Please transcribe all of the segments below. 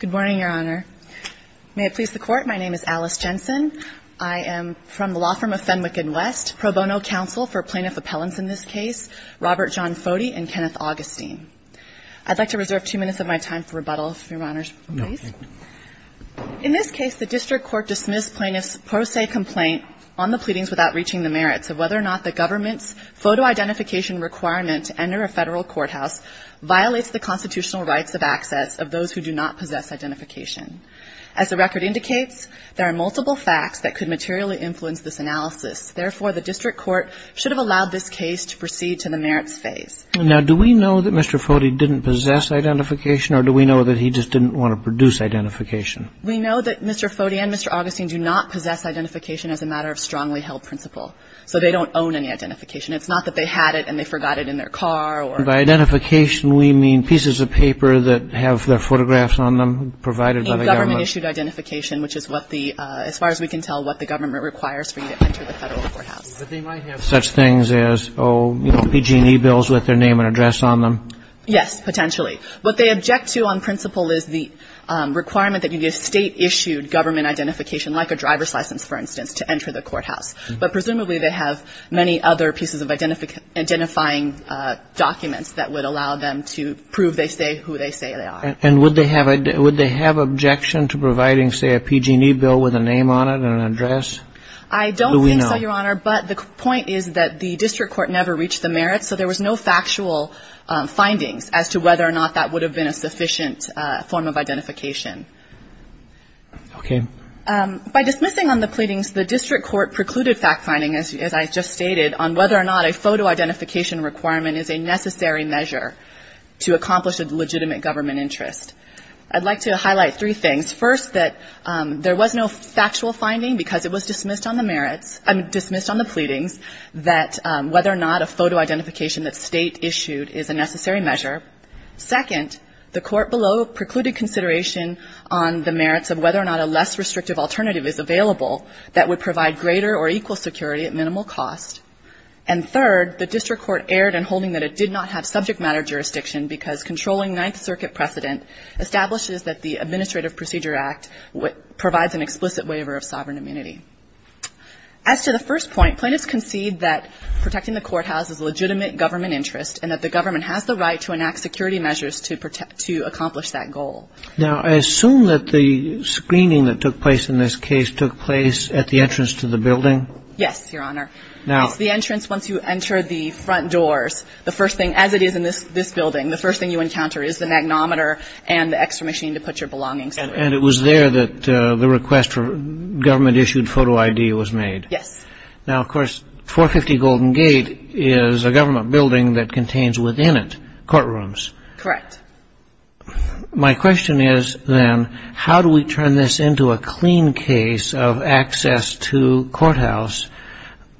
Good morning, Your Honor. May it please the Court, my name is Alice Jensen. I am from the law firm of Fenwick & West, pro bono counsel for plaintiff appellants in this case, Robert John Foti and Kenneth Augustine. I'd like to reserve two minutes of my time for rebuttal, if Your Honor's pleased. No, thank you. In this case, the district court dismissed plaintiff's pro se complaint on the pleadings without reaching the merits of whether or not the government's photo identification requirement to enter a federal courthouse violates the constitutional rights of access of those who do not possess identification. As the record indicates, there are multiple facts that could materially influence this analysis. Therefore, the district court should have allowed this case to proceed to the merits phase. Now, do we know that Mr. Foti didn't possess identification, or do we know that he just didn't want to produce identification? We know that Mr. Foti and Mr. Augustine do not possess identification as a matter of strongly held principle. So they don't own any identification. It's not that they had it and they forgot it in their car, or... By identification, we mean pieces of paper that have their photographs on them, provided by the government? Government-issued identification, which is what the, as far as we can tell, what the government requires for you to enter the federal courthouse. But they might have such things as, oh, you know, PG&E bills with their name and address on them. Yes, potentially. What they object to on principle is the requirement that you get state-issued government identification, like a driver's license, for instance, to enter the courthouse. But presumably, they have many other pieces of identifying documents that would allow them to prove they say who they say they are. And would they have objection to providing, say, a PG&E bill with a name on it and an address? I don't think so, Your Honor. Do we know? But the point is that the district court never reached the merits, so there was no factual findings as to whether or not that would have been a sufficient form of identification. Okay. By dismissing on the pleadings, the district court precluded fact-finding, as I just stated, on whether or not a photo identification requirement is a necessary measure to accomplish a legitimate government interest. I'd like to highlight three things. First, that there was no factual finding because it was dismissed on the merits, I mean, dismissed on the pleadings, that whether or not a photo identification that state-issued is a necessary measure. Second, the court below precluded consideration on the merits of whether or not a less restrictive alternative is available that would provide greater or equal security at minimal cost. And third, the district court erred in holding that it did not have subject matter jurisdiction because controlling Ninth Circuit precedent establishes that the Administrative Procedure Act provides an explicit waiver of sovereign immunity. As to the first point, plaintiffs concede that protecting the courthouse is a legitimate interest and that the government has the right to enact security measures to protect to accomplish that goal. Now, I assume that the screening that took place in this case took place at the entrance to the building? Yes, Your Honor. Now. It's the entrance. Once you enter the front doors, the first thing, as it is in this building, the first thing you encounter is the magnometer and the extra machine to put your belongings in. And it was there that the request for government-issued photo ID was made? Yes. Now, of course, 450 Golden Gate is a government building that contains within it courtrooms. Correct. My question is, then, how do we turn this into a clean case of access to courthouse?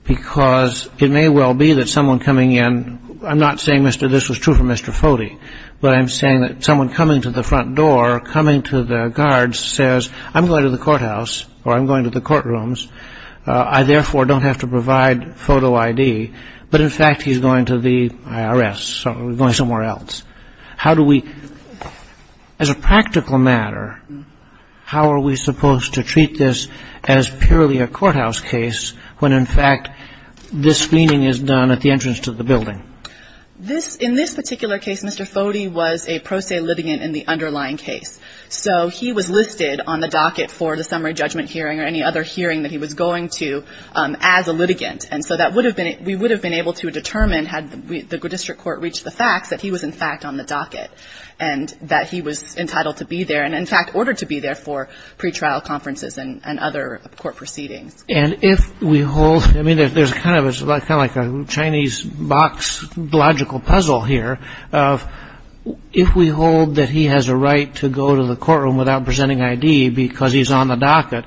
Because it may well be that someone coming in, I'm not saying, Mr., this was true for Mr. Foti, but I'm saying that someone coming to the front door, coming to the guards, says, I'm going to the courthouse, or I'm going to the courtrooms, I, therefore, don't have to provide photo ID, but, in fact, he's going to the IRS, so he's going somewhere else. How do we, as a practical matter, how are we supposed to treat this as purely a courthouse case when, in fact, this screening is done at the entrance to the building? In this particular case, Mr. Foti was a pro se litigant in the underlying case. So he was listed on the docket for the summary judgment hearing or any other hearing that he was going to as a litigant. And so that would have been, we would have been able to determine, had the district court reached the facts, that he was, in fact, on the docket and that he was entitled to be there and, in fact, ordered to be there for pretrial conferences and other court proceedings. And if we hold, I mean, there's kind of a, kind of like a Chinese box logical puzzle here, if we hold that he has a right to go to the courtroom without presenting ID because he's on the docket,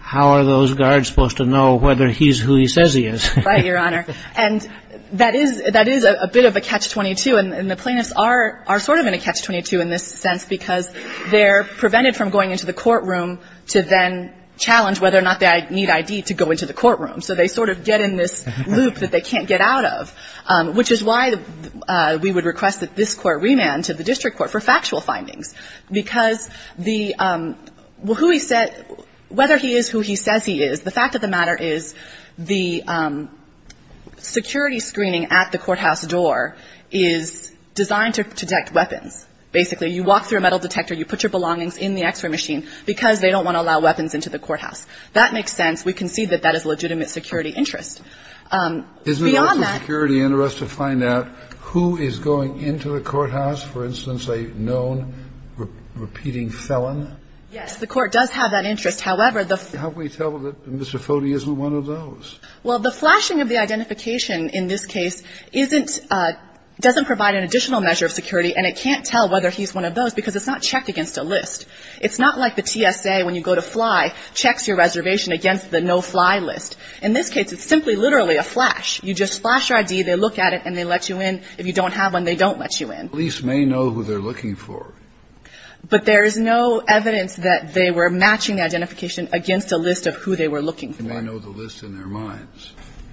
how are those guards supposed to know whether he's who he says he is? Right, Your Honor. And that is a bit of a catch-22, and the plaintiffs are sort of in a catch-22 in this sense because they're prevented from going into the courtroom to then challenge whether or not they need ID to go into the courtroom. So they sort of get in this loop that they can't get out of, which is why we would request that this court remand to the district court for factual findings. Because the, well, who he said, whether he is who he says he is, the fact of the matter is the security screening at the courthouse door is designed to detect weapons, basically. You walk through a metal detector, you put your belongings in the X-ray machine because they don't want to allow weapons into the courthouse. That makes sense. We concede that that is a legitimate security interest. Beyond that… Isn't it also security interest to find out who is going into the courthouse? For instance, a known repeating felon? Yes. The Court does have that interest. However, the… How can we tell that Mr. Foti isn't one of those? Well, the flashing of the identification in this case isn't… doesn't provide an additional measure of security, and it can't tell whether he's one of those because it's not checked against a list. It's not like the TSA, when you go to fly, checks your reservation against the no-fly list. In this case, it's simply literally a flash. You just flash your ID, they look at it, and they let you in. If you don't have one, they don't let you in. Police may know who they're looking for. But there is no evidence that they were matching identification against a list of who they were looking for. They may know the list in their minds.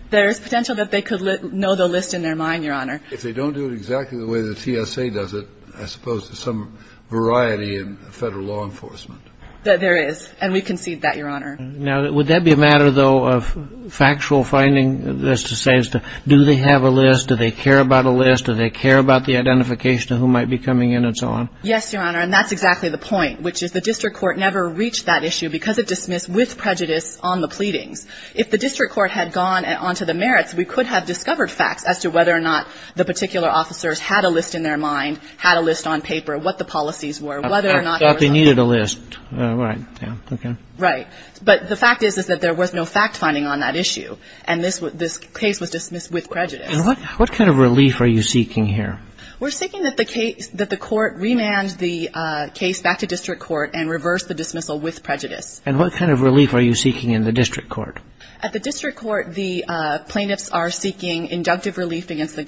There is potential that they could know the list in their mind, Your Honor. If they don't do it exactly the way the TSA does it, I suppose there's some variety in Federal law enforcement. There is, and we concede that, Your Honor. Now, would that be a matter, though, of factual finding, as to say, as to do they have a list, do they care about a list, do they care about the identification of who might be coming in and so on? Yes, Your Honor, and that's exactly the point, which is the district court never reached that issue because it dismissed with prejudice on the pleadings. If the district court had gone on to the merits, we could have discovered facts as to whether or not the particular officers had a list in their mind, had a list on paper, what the policies were, whether or not there was a list. I thought they needed a list, right, yeah, okay. Right, but the fact is, is that there was no fact-finding on that issue, and this case was dismissed with prejudice. And what kind of relief are you seeking here? We're seeking that the court remand the case back to district court and reverse the dismissal with prejudice. And what kind of relief are you seeking in the district court? At the district court, the plaintiffs are seeking inductive relief against the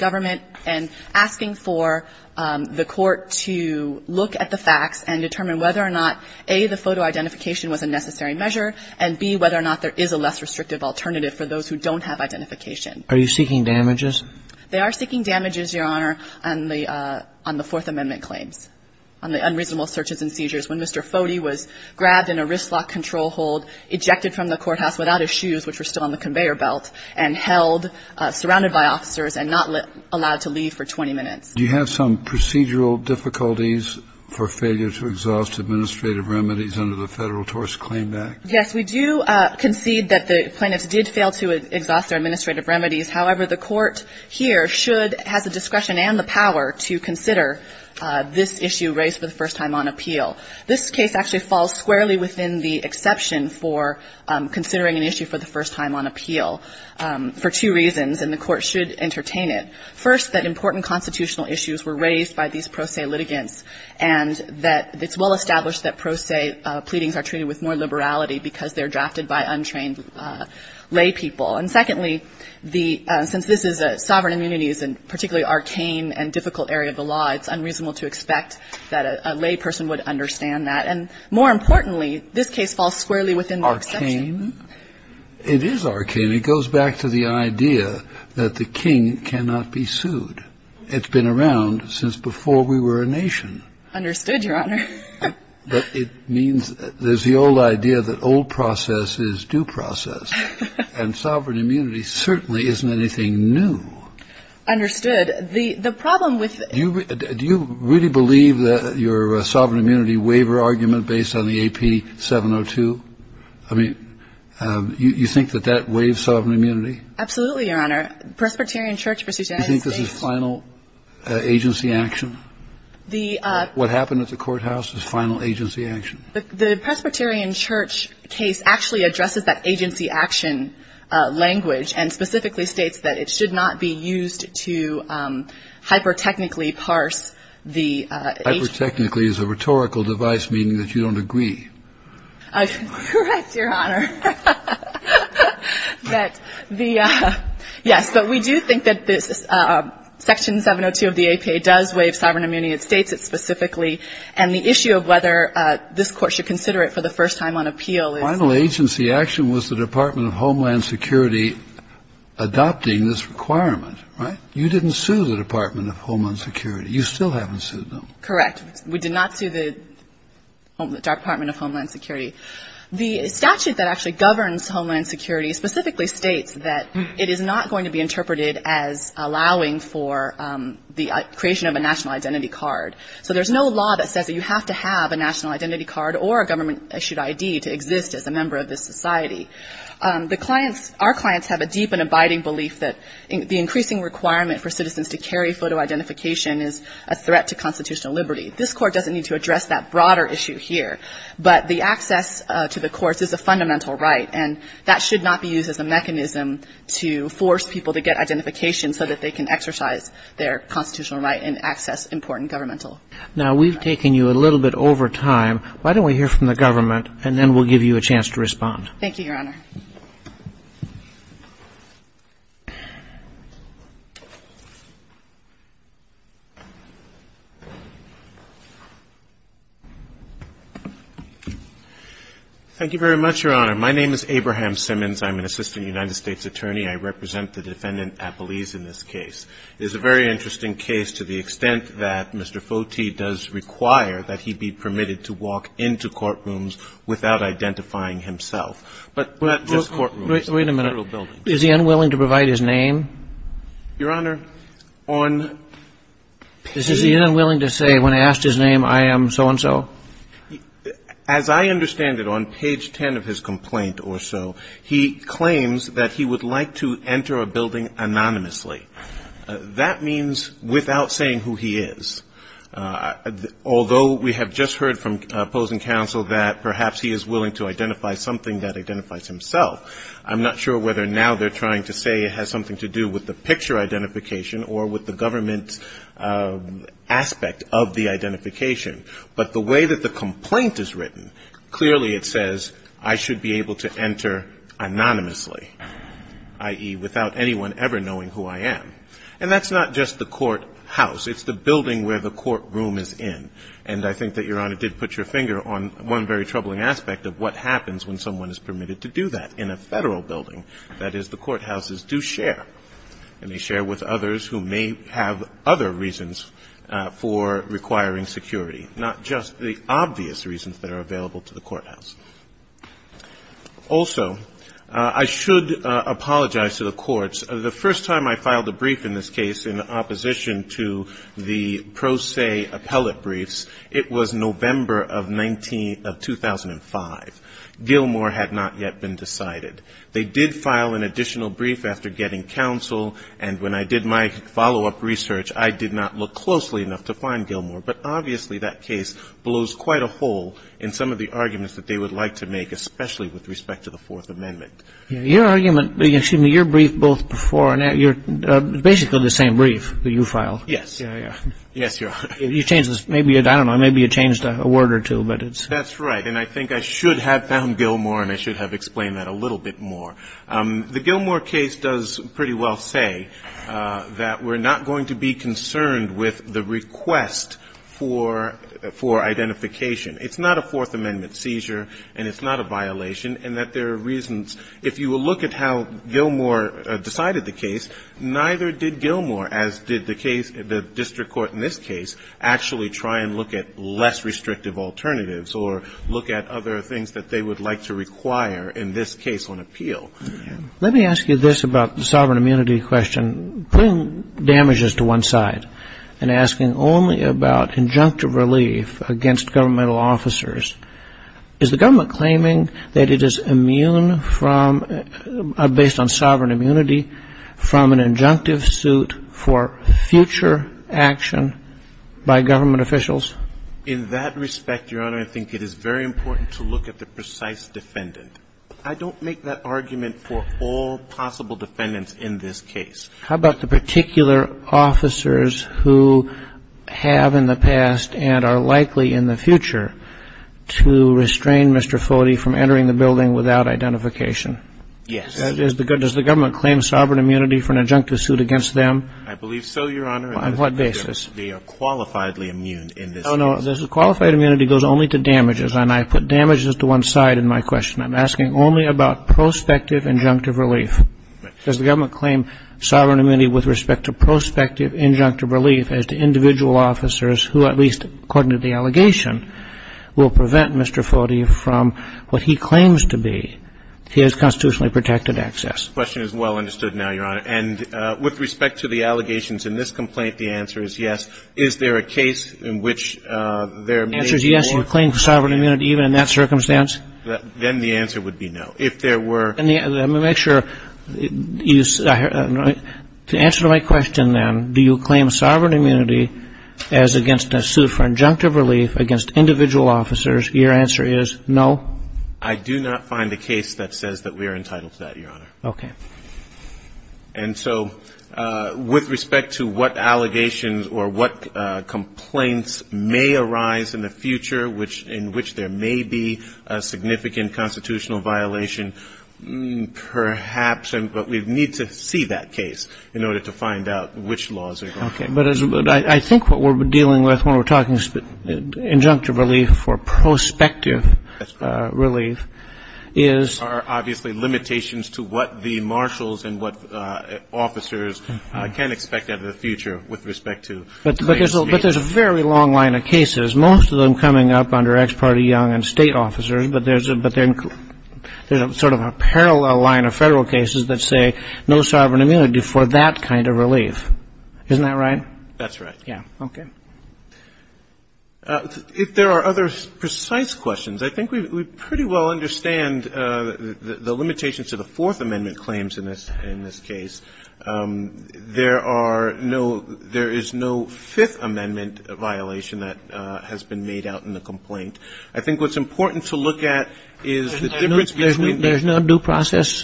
to look at the facts and determine whether or not, A, the photo identification was a necessary measure, and, B, whether or not there is a less restrictive alternative for those who don't have identification. Are you seeking damages? They are seeking damages, Your Honor, on the Fourth Amendment claims, on the unreasonable searches and seizures when Mr. Foti was grabbed in a wristlock control hold, ejected from the courthouse without his shoes, which were still on the conveyor belt, and held, surrounded by officers, and not allowed to leave for 20 minutes. Do you have some procedural difficulties for failure to exhaust administrative remedies under the Federal TORS Claim Act? Yes. We do concede that the plaintiffs did fail to exhaust their administrative remedies. However, the Court here should, has the discretion and the power to consider this issue raised for the first time on appeal. This case actually falls squarely within the exception for considering an issue for the first time on appeal for two reasons, and the Court should entertain it. First, that important constitutional issues were raised by these pro se litigants, and that it's well established that pro se pleadings are treated with more liberality because they are drafted by untrained laypeople. And secondly, the – since this is a sovereign immunity, it's a particularly arcane and difficult area of the law, it's unreasonable to expect that a layperson would understand that. And more importantly, this case falls squarely within the exception. Arcane? It is arcane. And it goes back to the idea that the king cannot be sued. It's been around since before we were a nation. Understood, Your Honor. But it means there's the old idea that old process is due process, and sovereign immunity certainly isn't anything new. Understood. The problem with the – Do you really believe that your sovereign immunity waiver argument based on the AP 702? I mean, you think that that waives sovereign immunity? Absolutely, Your Honor. Presbyterian Church Procedure Act is based – Do you think this is final agency action? The – What happened at the courthouse is final agency action. The Presbyterian Church case actually addresses that agency action language and specifically states that it should not be used to hyper-technically parse the – Hyper-technically is a rhetorical device meaning that you don't agree. Correct, Your Honor. But the – yes. But we do think that this – Section 702 of the APA does waive sovereign immunity. It states it specifically. And the issue of whether this Court should consider it for the first time on appeal is – Final agency action was the Department of Homeland Security adopting this requirement, right? You didn't sue the Department of Homeland Security. You still haven't sued them. Correct. We did not sue the Department of Homeland Security. The statute that actually governs Homeland Security specifically states that it is not going to be interpreted as allowing for the creation of a national identity card. So there's no law that says that you have to have a national identity card or a government issued ID to exist as a member of this society. The clients – our clients have a deep and abiding belief that the increasing requirement for citizens to carry photo identification is a threat to constitutional liberty. This Court doesn't need to address that broader issue here. But the access to the courts is a fundamental right. And that should not be used as a mechanism to force people to get identification so that they can exercise their constitutional right and access important governmental rights. Now, we've taken you a little bit over time. Why don't we hear from the government, and then we'll give you a chance to respond. Thank you, Your Honor. Thank you very much, Your Honor. My name is Abraham Simmons. I'm an assistant United States attorney. I represent the defendant, Appelese, in this case. It is a very interesting case to the extent that Mr. Foti does require that he be permitted to walk into courtrooms without identifying himself. But not just courtrooms. Wait a minute. Federal buildings. Is he unwilling to provide his name? Your Honor, on page 10 of his complaint or so, he claims that he would like to enter a building anonymously. That means without saying who he is. Although we have just heard from opposing counsel that perhaps he is willing to identify something that identifies himself, I'm not sure whether now they're trying to say it has something to do with the picture identification or with the government's aspect of the identification. But the way that the complaint is written, clearly it says, I should be able to enter anonymously, i.e., without anyone ever knowing who I am. And that's not just the courthouse. It's the building where the courtroom is in. And I think that Your Honor did put your finger on one very troubling aspect of what happens when someone is permitted to do that in a Federal building, that is, the courthouses do share, and they share with others who may have other reasons for requiring security, not just the obvious reasons that are available to the courthouse. Also, I should apologize to the courts. The first time I filed a brief in this case in opposition to the pro se appellate briefs, it was November of 2005. Gilmour had not yet been decided. They did file an additional brief after getting counsel. And when I did my follow-up research, I did not look closely enough to find Gilmour. But obviously, that case blows quite a hole in some of the arguments that they would like to make, especially with respect to the Fourth Amendment. Your argument, excuse me, your brief both before and after, you're basically the same brief that you filed. Yes. Yes, Your Honor. You changed this. Maybe you, I don't know, maybe you changed a word or two, but it's — That's right. And I think I should have found Gilmour, and I should have explained that a little bit more. The Gilmour case does pretty well say that we're not going to be concerned with the request for identification. It's not a Fourth Amendment seizure, and it's not a violation, and that there are reasons. If you will look at how Gilmour decided the case, neither did Gilmour, as did the district court in this case, actually try and look at less restrictive alternatives or look at other things that they would like to require, in this case, on appeal. Let me ask you this about the sovereign immunity question. Putting damages to one side and asking only about injunctive relief against governmental officers, is the government claiming that it is immune from, based on future action by government officials? In that respect, Your Honor, I think it is very important to look at the precise defendant. I don't make that argument for all possible defendants in this case. How about the particular officers who have in the past and are likely in the future to restrain Mr. Foti from entering the building without identification? Yes. Does the government claim sovereign immunity for an injunctive suit against them? I believe so, Your Honor. On what basis? They are qualifiedly immune in this case. Oh, no. The qualified immunity goes only to damages, and I put damages to one side in my question. I'm asking only about prospective injunctive relief. Does the government claim sovereign immunity with respect to prospective injunctive relief as to individual officers who, at least according to the allegation, will prevent Mr. Foti from what he claims to be, his constitutionally protected access? The question is well understood now, Your Honor. And with respect to the allegations in this complaint, the answer is yes. Is there a case in which there may be more claim to sovereign immunity, even in that circumstance? Then the answer would be no. If there were any other, let me make sure, to answer my question, then, do you claim sovereign immunity as against a suit for injunctive relief against individual officers? Your answer is no. I do not find a case that says that we are entitled to that, Your Honor. Okay. And so with respect to what allegations or what complaints may arise in the future in which there may be a significant constitutional violation, perhaps, but we need to see that case in order to find out which laws are going to be used. Okay. But I think what we're dealing with when we're talking injunctive relief or prospective relief is there are obviously limitations to what the most important thing is. And I think that's what we're dealing with in this case, is there's a very long line of cases. There's a very long line of cases, most of them coming up under ex parte young and state officers, but there's a sort of a parallel line of Federal cases that say no sovereign immunity for that kind of relief. Isn't that right? That's right. Yeah. Okay. If there are other precise questions, I think we pretty well understand the limitations of the Fourth Amendment claims in this case. There are no – there is no Fifth Amendment violation that has been made out in the complaint. I think what's important to look at is the difference between the – There's no due process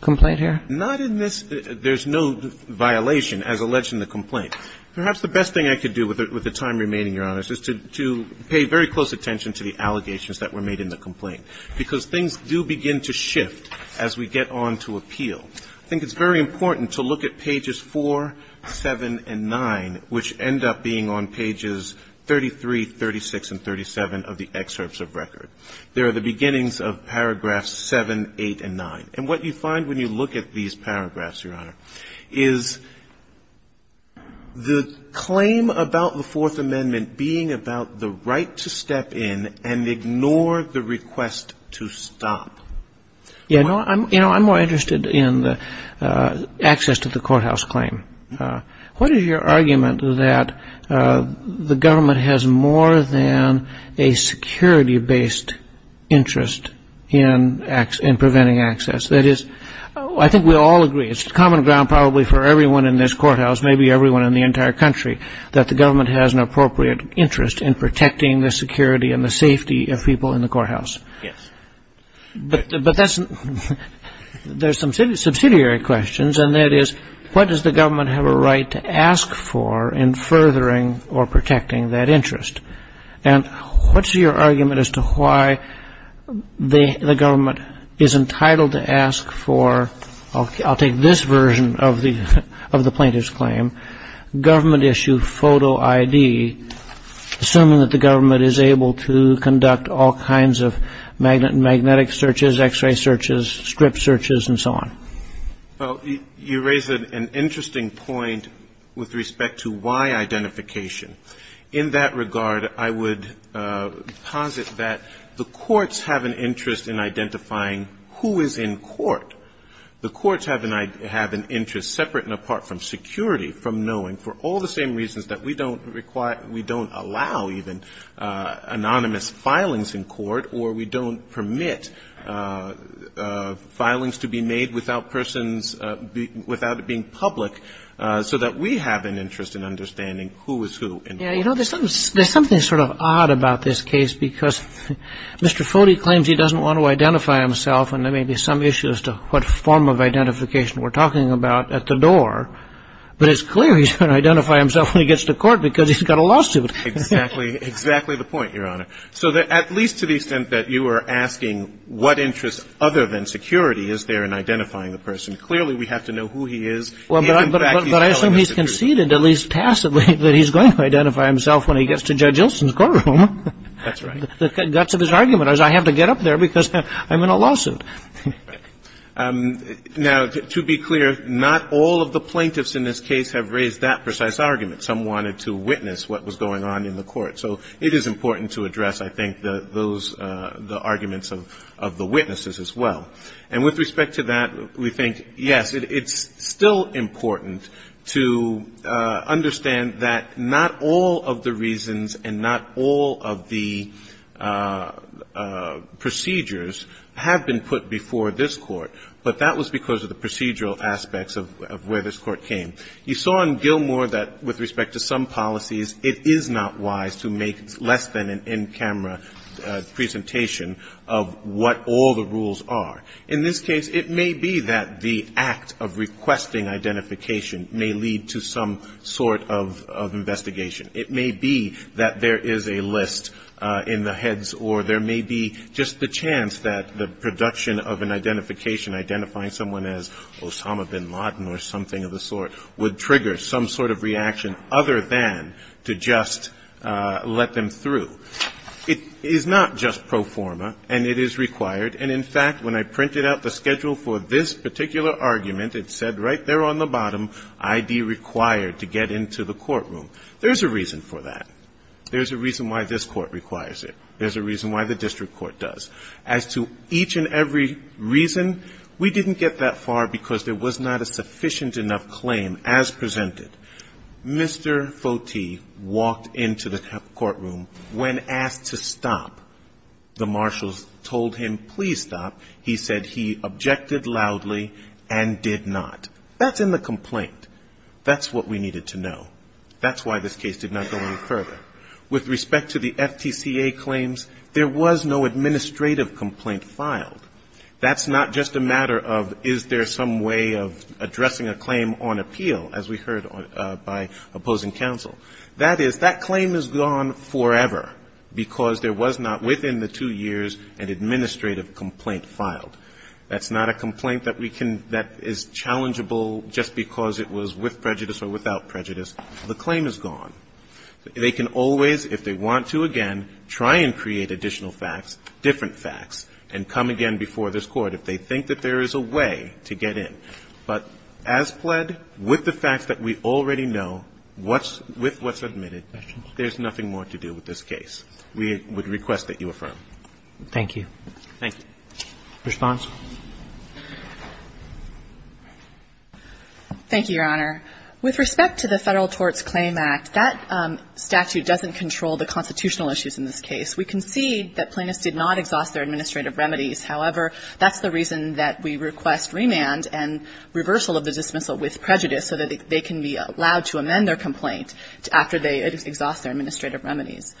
complaint here? Not in this – there's no violation as alleged in the complaint. Perhaps the best thing I could do with the time remaining, Your Honor, is to pay very close attention to the allegations that were made in the complaint, because things do begin to shift as we get on to appeal. I think it's very important to look at pages 4, 7, and 9, which end up being on pages 33, 36, and 37 of the excerpts of record. They are the beginnings of paragraphs 7, 8, and 9. And what you find when you look at these paragraphs, Your Honor, is the claim about the Fourth Amendment being about the right to step in and ignore the request to stop. Yeah, no, I'm more interested in the access to the courthouse claim. What is your argument that the government has more than a security-based interest in preventing access? That is, I think we all agree, it's common ground probably for everyone in this courthouse, maybe everyone in the entire country, that the government has an appropriate interest in protecting the security and the safety of people in the courthouse. Yes. But there's some subsidiary questions, and that is, what does the government have a right to ask for in furthering or protecting that interest? And what's your argument as to why the government is entitled to ask for, I'll take this version of the plaintiff's claim, government-issued photo ID, assuming that the government is going to conduct all kinds of magnetic searches, X-ray searches, strip searches, and so on? Well, you raise an interesting point with respect to why identification. In that regard, I would posit that the courts have an interest in identifying who is in court. The courts have an interest, separate and apart from security, from knowing, for all the same reasons that we don't require, we don't allow even, anonymous filings in court or we don't permit filings to be made without persons, without it being public, so that we have an interest in understanding who is who in court. Yes. You know, there's something sort of odd about this case, because Mr. Foti claims he doesn't want to identify himself, and there may be some issue as to what form of identification we're talking about at the door, but it's clear he's going to identify himself when he gets to court because he's got a lawsuit. Exactly. Exactly the point, Your Honor. So at least to the extent that you are asking what interest other than security is there in identifying the person, clearly we have to know who he is, and, in fact, he's telling us the truth. But I assume he's conceded, at least passively, that he's going to identify himself when he gets to Judge Ilson's courtroom. That's right. The guts of his argument is, I have to get up there because I'm in a lawsuit. Now, to be clear, not all of the plaintiffs in this case have raised that precise argument. Some wanted to witness what was going on in the court. So it is important to address, I think, those the arguments of the witnesses as well. And with respect to that, we think, yes, it's still important to understand that not all of the reasons and not all of the procedures have been put together before this court. But that was because of the procedural aspects of where this court came. You saw in Gilmour that, with respect to some policies, it is not wise to make less than an in-camera presentation of what all the rules are. In this case, it may be that the act of requesting identification may lead to some sort of investigation. It may be that there is a list in the heads, or there may be just the chance that the production of an identification identifying someone as Osama bin Laden or something of the sort would trigger some sort of reaction other than to just let them through. It is not just pro forma, and it is required. And, in fact, when I printed out the schedule for this particular argument, it said right there on the bottom, ID required to get into the courtroom. There's a reason for that. There's a reason why this court requires it. There's a reason why the district court does. As to each and every reason, we didn't get that far because there was not a sufficient enough claim as presented. Mr. Foti walked into the courtroom. When asked to stop, the marshals told him, please stop. He said he objected loudly and did not. That's in the complaint. That's what we needed to know. That's why this case did not go any further. With respect to the FTCA claims, there was no administrative complaint filed. That's not just a matter of is there some way of addressing a claim on appeal, as we heard by opposing counsel. That is, that claim is gone forever because there was not within the two years an administrative complaint filed. That's not a complaint that we can, that is challengeable just because it was with prejudice or without prejudice. The claim is gone. They can always, if they want to again, try and create additional facts, different facts, and come again before this court if they think that there is a way to get in. But as pled, with the facts that we already know, with what's admitted, there's nothing more to do with this case. We would request that you affirm. Thank you. Thank you. Response? Thank you, Your Honor. With respect to the Federal Torts Claim Act, that statute doesn't control the constitutional issues in this case. We concede that plaintiffs did not exhaust their administrative remedies. However, that's the reason that we request remand and reversal of the dismissal with prejudice so that they can be allowed to amend their complaint after they exhaust their administrative remedies.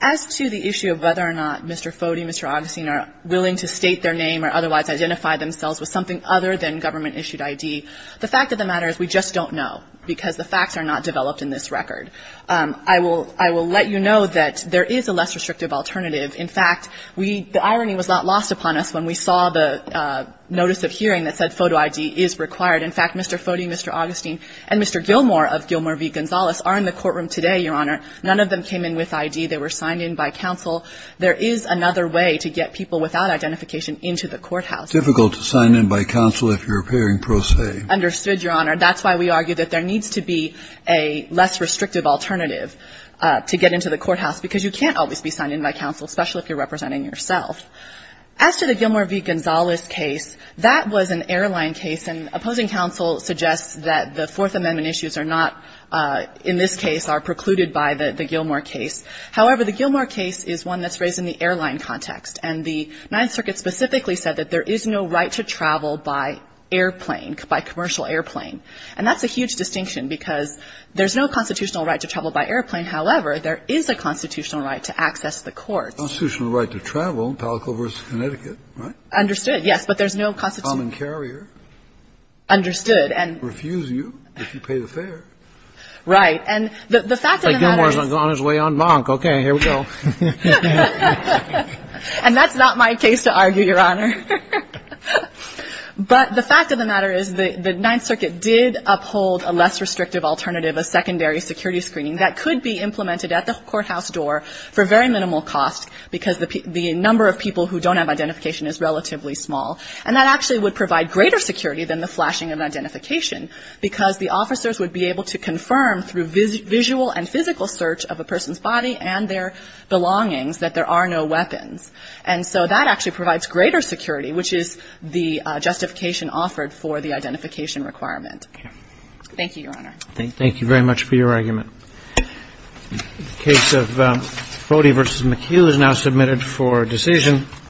As to the issue of whether or not Mr. Foti, Mr. Augustine are willing to state their name or otherwise identify themselves with something other than government issued ID, the fact of the matter is we just don't know because the facts are not developed in this record. I will let you know that there is a less restrictive alternative. In fact, the irony was not lost upon us when we saw the notice of hearing that said photo ID is required. In fact, Mr. Foti, Mr. Augustine, and Mr. Gilmour of Gilmour v. Gonzales are in the courtroom today, Your Honor. None of them came in with ID. They were signed in by counsel. There is another way to get people without identification into the courthouse. It's difficult to sign in by counsel if you're appearing pro se. Understood, Your Honor. That's why we argue that there needs to be a less restrictive alternative to get into the courthouse, because you can't always be signed in by counsel, especially if you're representing yourself. As to the Gilmour v. Gonzales case, that was an airline case, and opposing counsel suggests that the Fourth Amendment issues are not, in this case, are precluded by the Gilmour case. However, the Gilmour case is one that's raised in the airline context, and the Ninth to travel by airplane, by commercial airplane. And that's a huge distinction because there's no constitutional right to travel by airplane, however there is a constitutional right to access the courts. The constitutional right to travel, Palacula v. Connecticut, right? Understood, yes, but there's no constitutional risk. A common carrier. Understood. And refuse you if you pay the fare. Right, and the fact of the matter is that Gilmour's on his way on Monk, okay, here we go. And that's not my case to argue, Your Honor. But the fact of the matter is that the Ninth Circuit did uphold a less restrictive alternative, a secondary security screening that could be implemented at the courthouse door for very minimal cost because the number of people who don't have identification is relatively small. And that actually would provide greater security than the flashing of identification because the officers would be able to confirm through visual and physical search of a person's body and their belongings that there are no weapons. And so that actually provides greater security, which is the justification offered for the identification requirement. Thank you, Your Honor. Thank you very much for your argument. The case of Bodie v. McHugh is now submitted for decision.